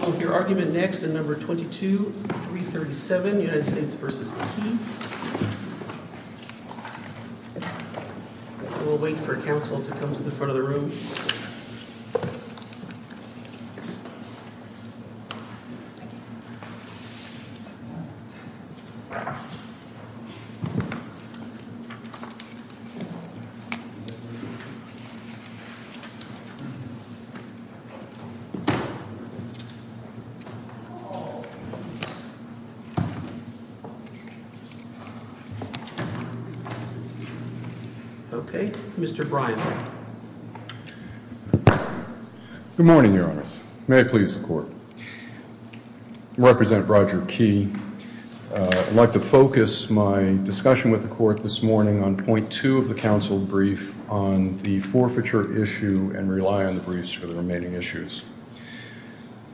We'll hear argument next in No. 22-337, United States v. Key. We'll wait for counsel to come to the front of the room. Okay. Mr. Bryan. Good morning, Your Honor. May I please the Court? I represent Roger Key. I'd like to focus my discussion with the Court this morning on Point 2 of the counsel brief on the forfeiture issue and rely on the briefs for the remaining issues.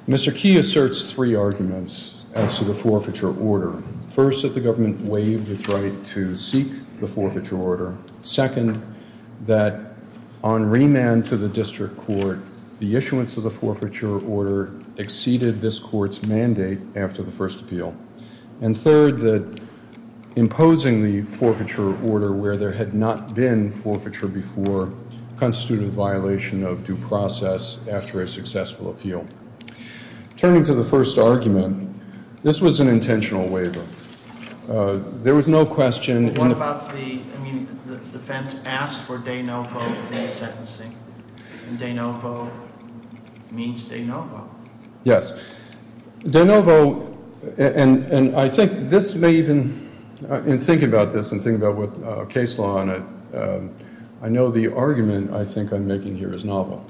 Mr. Key asserts three arguments as to the forfeiture order. First, that the government waived its right to seek the forfeiture order. Second, that on remand to the District Court, the issuance of the forfeiture order exceeded this Court's mandate after the first appeal. And third, that imposing the forfeiture order where there had not been forfeiture before constituted a violation of due process after a successful appeal. Turning to the first argument, this was an intentional waiver. There was no question in the What about the defense asked for de novo in the sentencing? De novo means de novo. Yes. De novo. And I think this may even think about this and think about what case law on it. I know the argument I think I'm making here is novel.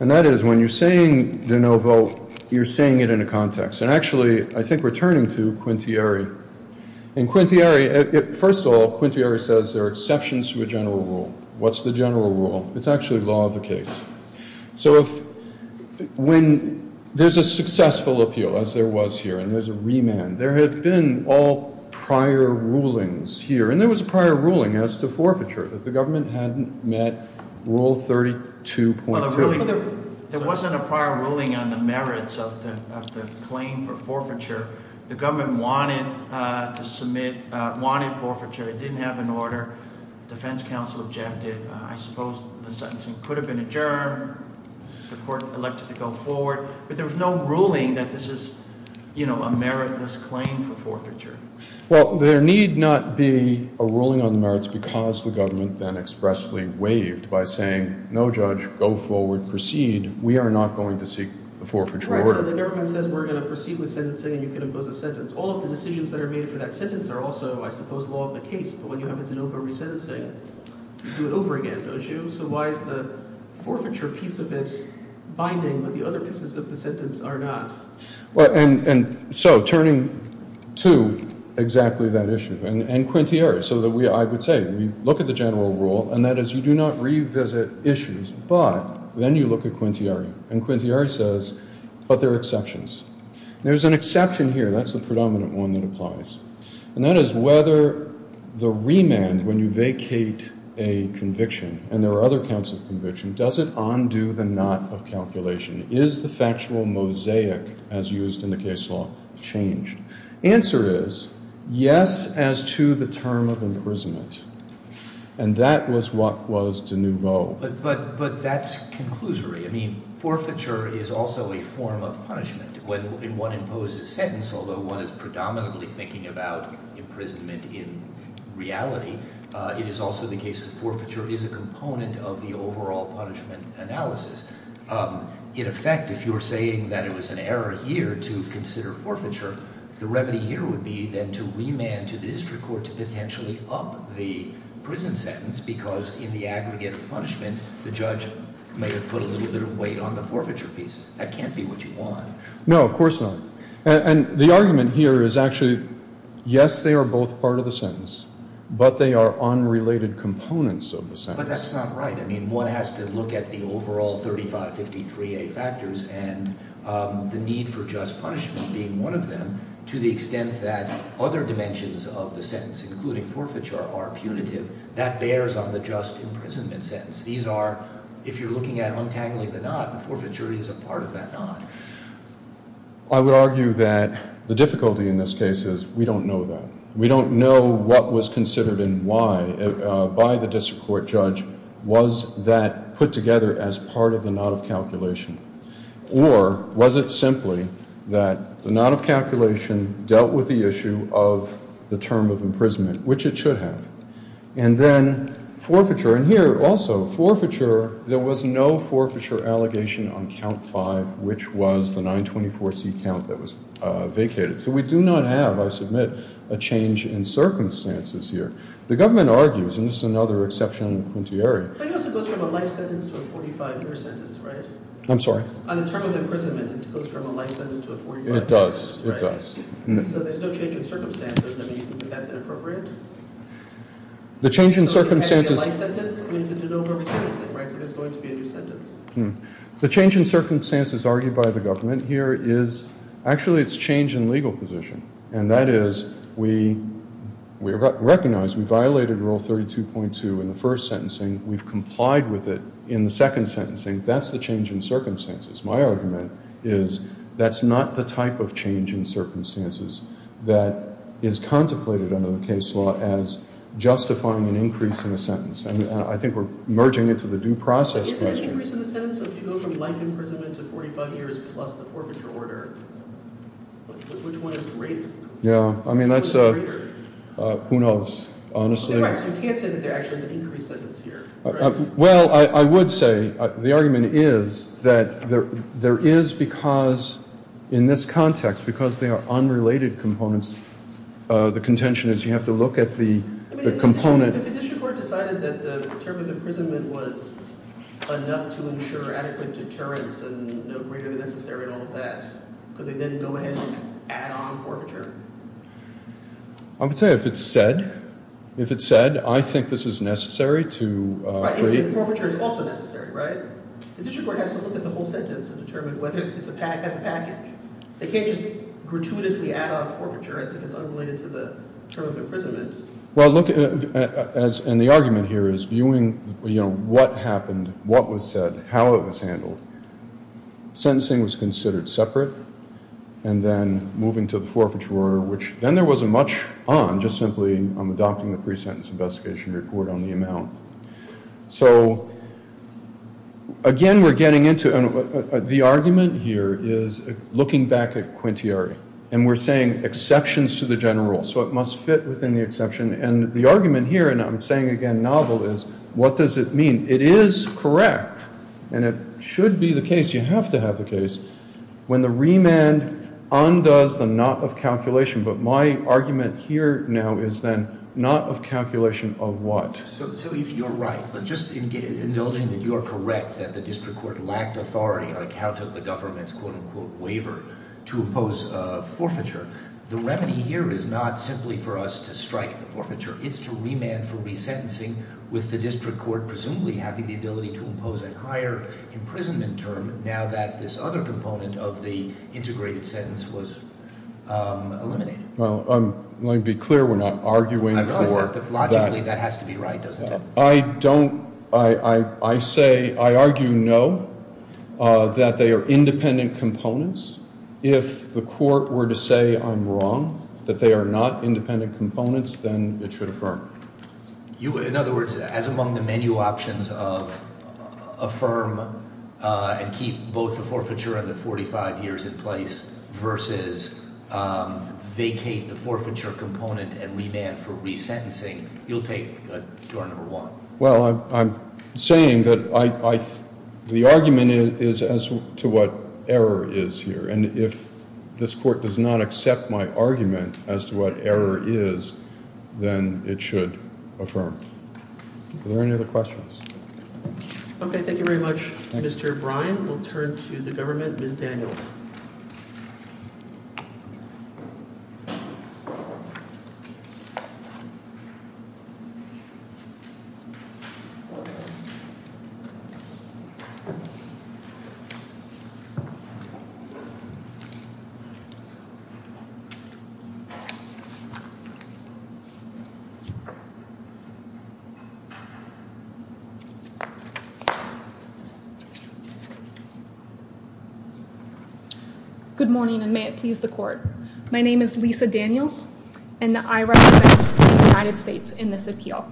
And that is when you're saying de novo, you're saying it in a context. And actually, I think returning to Quintieri. In Quintieri, first of all, Quintieri says there are exceptions to a general rule. What's the general rule? It's actually law of the case. So when there's a successful appeal, as there was here, and there's a remand, there had been all prior rulings here. And there was a prior ruling as to forfeiture that the government hadn't met Rule 32.2. There wasn't a prior ruling on the merits of the claim for forfeiture. The government wanted to submit, wanted forfeiture. It didn't have an order. Defense counsel objected. I suppose the sentencing could have been adjourned. The court elected to go forward. But there was no ruling that this is a meritless claim for forfeiture. Well, there need not be a ruling on the merits because the government then expressly waived by saying, no, Judge, go forward, proceed. We are not going to seek the forfeiture order. So the government says we're going to proceed with sentencing and you can impose a sentence. All of the decisions that are made for that sentence are also, I suppose, law of the case. But when you have a de novo resentencing, you do it over again, don't you? So why is the forfeiture piece of it binding but the other pieces of the sentence are not? Well, and so turning to exactly that issue, and Quintieri, so that I would say we look at the general rule, and that is you do not revisit issues. But then you look at Quintieri, and Quintieri says, but there are exceptions. There's an exception here. That's the predominant one that applies. And that is whether the remand, when you vacate a conviction, and there are other kinds of conviction, does it undo the knot of calculation? Is the factual mosaic, as used in the case law, changed? Answer is, yes, as to the term of imprisonment. And that was what was de novo. But that's conclusory. I mean, forfeiture is also a form of punishment. When one imposes sentence, although one is predominantly thinking about imprisonment in reality, it is also the case that forfeiture is a component of the overall punishment analysis. In effect, if you're saying that it was an error here to consider forfeiture, the remedy here would be then to remand to the district court to potentially up the prison sentence because in the aggregate of punishment, the judge may have put a little bit of weight on the forfeiture piece. That can't be what you want. No, of course not. And the argument here is actually, yes, they are both part of the sentence, but they are unrelated components of the sentence. But that's not right. I mean, one has to look at the overall 3553A factors and the need for just punishment being one of them to the extent that other dimensions of the sentence, including forfeiture, are punitive. That bears on the just imprisonment sentence. If you're looking at untangling the knot, the forfeiture is a part of that knot. I would argue that the difficulty in this case is we don't know that. We don't know what was considered and why by the district court judge. Was that put together as part of the knot of calculation? Or was it simply that the knot of calculation dealt with the issue of the term of imprisonment, which it should have? And then forfeiture. And here, also, forfeiture, there was no forfeiture allegation on count five, which was the 924C count that was vacated. So we do not have, I submit, a change in circumstances here. The government argues, and this is another exception in the quintiary. But it also goes from a life sentence to a 45-year sentence, right? I'm sorry? On the term of imprisonment, it goes from a life sentence to a 45-year sentence, right? It does. It does. So there's no change in circumstances. Do you think that's inappropriate? The change in circumstances. So it's going to be a life sentence? It means it's an over sentencing, right? So there's going to be a new sentence. The change in circumstances argued by the government here is actually it's change in legal position. And that is we recognize we violated Rule 32.2 in the first sentencing. We've complied with it in the second sentencing. That's the change in circumstances. My argument is that's not the type of change in circumstances that is contemplated under the case law as justifying an increase in a sentence. And I think we're merging it to the due process question. Isn't it an increase in a sentence? So if you go from life imprisonment to 45 years plus the forfeiture order, which one is greater? Yeah, I mean, that's a who knows, honestly. So you can't say that there actually is an increase sentence here, right? Well, I would say the argument is that there is because in this context, because they are unrelated components, the contention is you have to look at the component. If a district court decided that the term of imprisonment was enough to ensure adequate deterrence and no greater than necessary and all of that, could they then go ahead and add on forfeiture? I would say if it's said. If it's said, I think this is necessary to agree. Forfeiture is also necessary, right? The district court has to look at the whole sentence and determine whether it's a package. They can't just gratuitously add on forfeiture as if it's unrelated to the term of imprisonment. Well, look, and the argument here is viewing what happened, what was said, how it was handled. Sentencing was considered separate. And then moving to the forfeiture order, which then there wasn't much on, just simply on adopting the pre-sentence investigation report on the amount. So, again, we're getting into the argument here is looking back at quintiary. And we're saying exceptions to the general rule. So it must fit within the exception. And the argument here, and I'm saying, again, novel, is what does it mean? It is correct, and it should be the case, you have to have the case, when the remand undoes the not of calculation. But my argument here now is then not of calculation of what? So if you're right, but just indulging that you're correct that the district court lacked authority on account of the government's quote-unquote waiver to impose forfeiture. The remedy here is not simply for us to strike the forfeiture. It's to remand for resentencing with the district court presumably having the ability to impose a higher imprisonment term now that this other component of the integrated sentence was eliminated. Well, let me be clear. We're not arguing for that. Logically, that has to be right, doesn't it? I don't. I say, I argue no, that they are independent components. If the court were to say I'm wrong, that they are not independent components, then it should affirm. In other words, as among the menu options of affirm and keep both the forfeiture and the 45 years in place versus vacate the forfeiture component and remand for resentencing, you'll take the number one. Well, I'm saying that the argument is as to what error is here. And if this court does not accept my argument as to what error is, then it should affirm. Are there any other questions? Okay. Thank you very much, Mr. Brian will turn to the government. Good morning, and may it please the court. My name is Lisa Daniels, and I represent the United States in this appeal.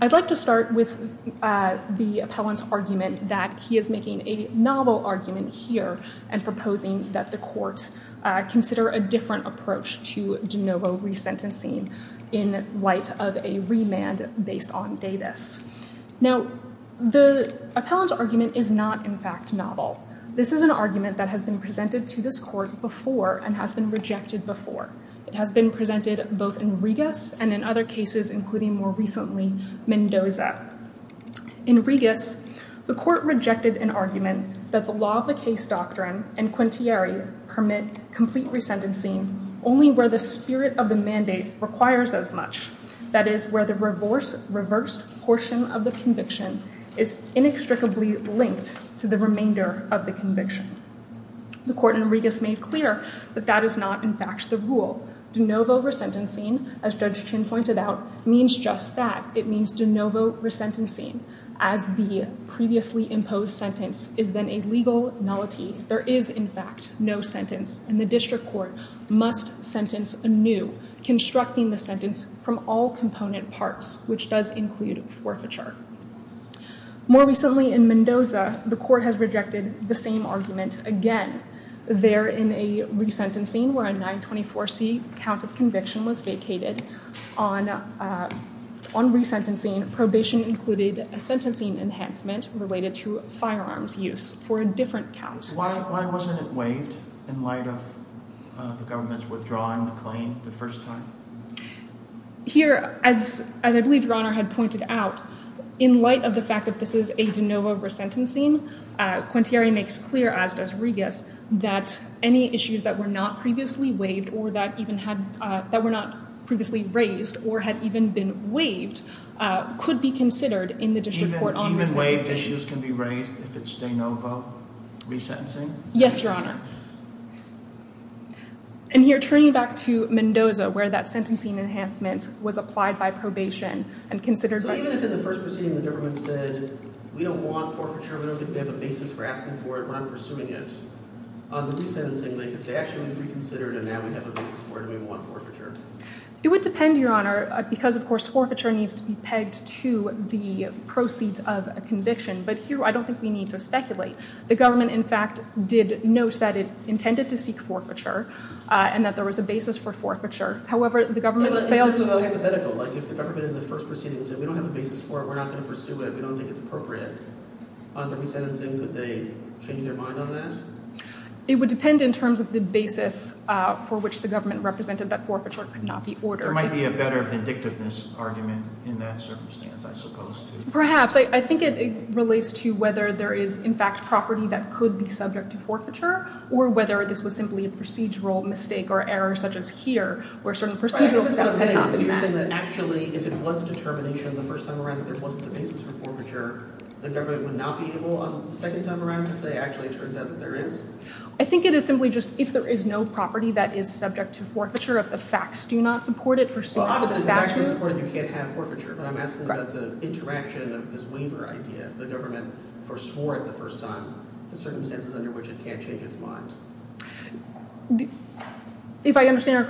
I'd like to start with the appellant's argument that he is making a novel argument here and proposing that the courts consider a different approach to de novo resentencing in light of a remand based on Davis. Now, the appellant's argument is not in fact novel. This is an argument that has been presented to this court before and has been rejected before. It has been presented both in Regas and in other cases, including more recently Mendoza. In Regas, the court rejected an argument that the law of the case doctrine and Quintieri permit complete resentencing only where the spirit of the mandate requires as much. That is where the reverse, reversed portion of the conviction is inextricably linked to the remainder of the conviction. The court in Regas made clear that that is not in fact the rule. De novo resentencing, as Judge Chin pointed out, means just that. It means de novo resentencing. As the previously imposed sentence is then a legal nullity. There is, in fact, no sentence, and the district court must sentence anew, constructing the sentence from all component parts, which does include forfeiture. More recently in Mendoza, the court has rejected the same argument again. They're in a resentencing where a 924 C count of conviction was vacated on on resentencing. Probation included a sentencing enhancement related to firearms use for a different counts. Why wasn't it waived in light of the government's withdrawing the claim the first time here? As I believe your honor had pointed out in light of the fact that this is a de novo resentencing, Quintieri makes clear as does Regas that any issues that were not previously waived or that even had that were not previously raised or had even been waived could be considered in the district court. Even waived issues can be raised if it's de novo resentencing. Yes, your honor. And you're turning back to Mendoza where that sentencing enhancement was applied by probation and considered. So even if in the first proceeding the government said we don't want forfeiture, we don't think we have a basis for asking for it, we're not pursuing it, on the resentencing they could say actually we've reconsidered and now we have a basis for it and we want forfeiture. It would depend, your honor, because of course forfeiture needs to be pegged to the proceeds of a conviction. But here I don't think we need to speculate. The government, in fact, did note that it intended to seek forfeiture and that there was a basis for forfeiture. In terms of the hypothetical, like if the government in the first proceeding said we don't have a basis for it, we're not going to pursue it, we don't think it's appropriate on the resentencing, could they change their mind on that? It would depend in terms of the basis for which the government represented that forfeiture could not be ordered. There might be a better vindictiveness argument in that circumstance, I suppose. Perhaps. I think it relates to whether there is, in fact, property that could be subject to forfeiture or whether this was simply a procedural mistake or error such as here where certain procedural steps had been taken. You're saying that actually if it was determination the first time around that there wasn't a basis for forfeiture, the government would not be able on the second time around to say actually it turns out that there is? I think it is simply just if there is no property that is subject to forfeiture, if the facts do not support it pursuant to the statute. I support that you can't have forfeiture, but I'm asking about the interaction of this waiver idea. If the government forswore it the first time, the circumstances under which it can't change its mind. If I understand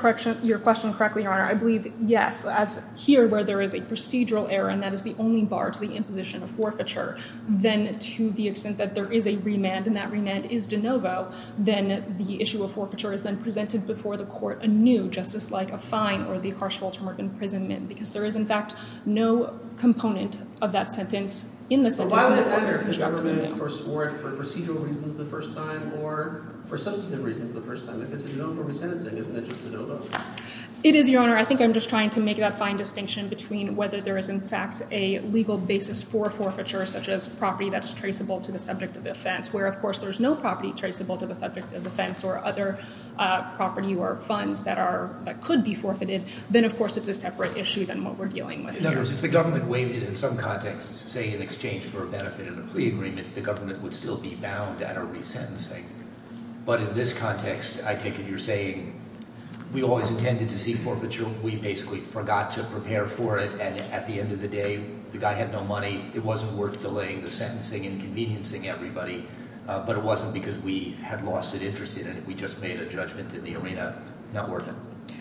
your question correctly, Your Honor, I believe yes. So as here where there is a procedural error and that is the only bar to the imposition of forfeiture, then to the extent that there is a remand and that remand is de novo, then the issue of forfeiture is then presented before the court anew, just as like a fine or the partial term of imprisonment. Because there is, in fact, no component of that sentence in the sentence. So why would the government forswore it for procedural reasons the first time or for substantive reasons the first time? If it's a de novo resentencing, isn't it just de novo? It is, Your Honor. I think I'm just trying to make that fine distinction between whether there is, in fact, a legal basis for forfeiture, such as property that is traceable to the subject of offense, where, of course, there's no property traceable to the subject of offense or other property or funds that could be forfeited. Then, of course, it's a separate issue than what we're dealing with here. In other words, if the government waived it in some context, say in exchange for a benefit in a plea agreement, the government would still be bound at a resentencing. But in this context, I take it you're saying we always intended to seek forfeiture. We basically forgot to prepare for it. And at the end of the day, the guy had no money. It wasn't worth delaying the sentencing and conveniencing everybody. But it wasn't because we had lost an interest in it. We just made a judgment in the arena. Not worth it.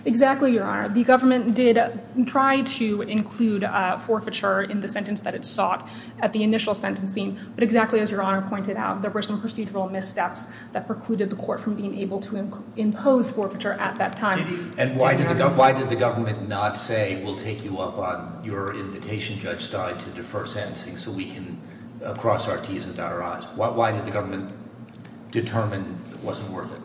Exactly, Your Honor. The government did try to include forfeiture in the sentence that it sought at the initial sentencing. But exactly as Your Honor pointed out, there were some procedural missteps that precluded the court from being able to impose forfeiture at that time. And why did the government not say, we'll take you up on your invitation, Judge Stein, to defer sentencing so we can cross our T's and dot our I's? Why did the government determine it wasn't worth it?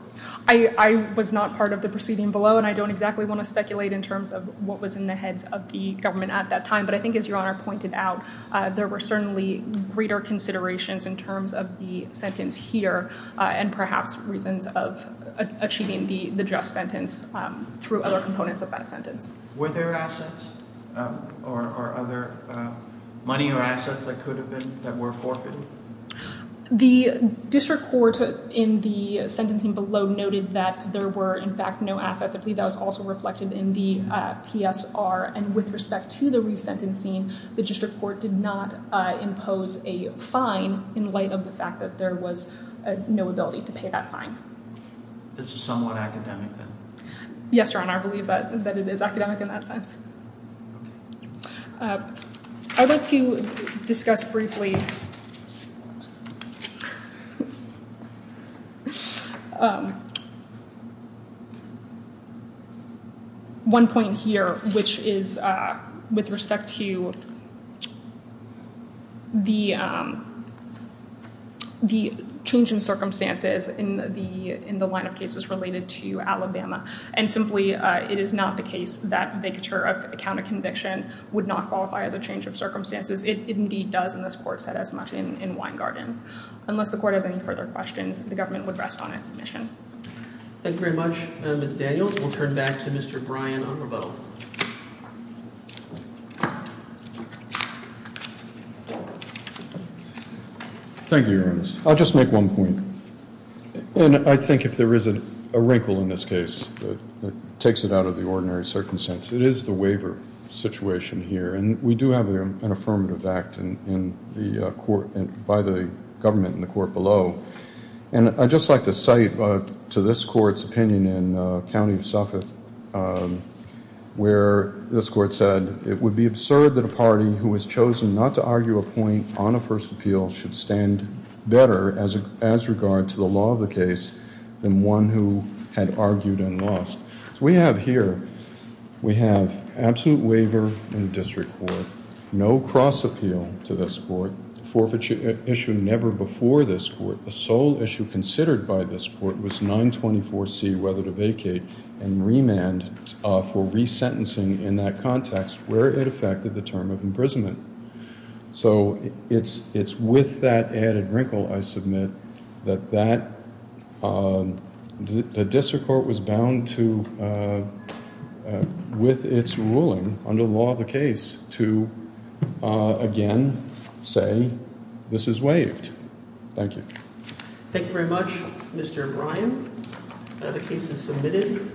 I was not part of the proceeding below, and I don't exactly want to speculate in terms of what was in the heads of the government at that time. But I think as Your Honor pointed out, there were certainly greater considerations in terms of the sentence here. And perhaps reasons of achieving the just sentence through other components of that sentence. Were there assets or other money or assets that could have been that were forfeited? The district court in the sentencing below noted that there were in fact no assets. I believe that was also reflected in the PSR. And with respect to the resentencing, the district court did not impose a fine in light of the fact that there was no ability to pay that fine. This is somewhat academic. Yes, Your Honor. I believe that it is academic in that sense. I'd like to discuss briefly. One point here, which is with respect to. The changing circumstances in the line of cases related to Alabama. And simply, it is not the case that a counter conviction would not qualify as a change of circumstances. It indeed does. And this court said as much in Winegarden, unless the court has any further questions, the government would rest on its mission. Thank you very much. Miss Daniels will turn back to Mr. Brian. Thank you. I'll just make one point. And I think if there isn't a wrinkle in this case that takes it out of the ordinary circumstance, it is the waiver situation here. And we do have an affirmative act in the court by the government in the court below. And I'd just like to cite to this court's opinion in County of Suffolk. Where this court said it would be absurd that a party who has chosen not to argue a point on a first appeal should stand better as a as regard to the law of the case than one who had argued and lost. We have here. We have absolute waiver in the district court. No cross appeal to this court forfeiture issue never before this court. The sole issue considered by this court was 924 C, whether to vacate and remand for resentencing in that context where it affected the term of imprisonment. So it's it's with that added wrinkle. I submit that that the district court was bound to. With its ruling under the law of the case to again say this is waived. Thank you. Thank you very much, Mr. Brian. The case is submitted.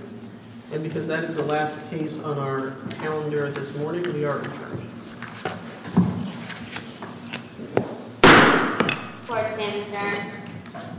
Because that is the last case on our calendar this morning.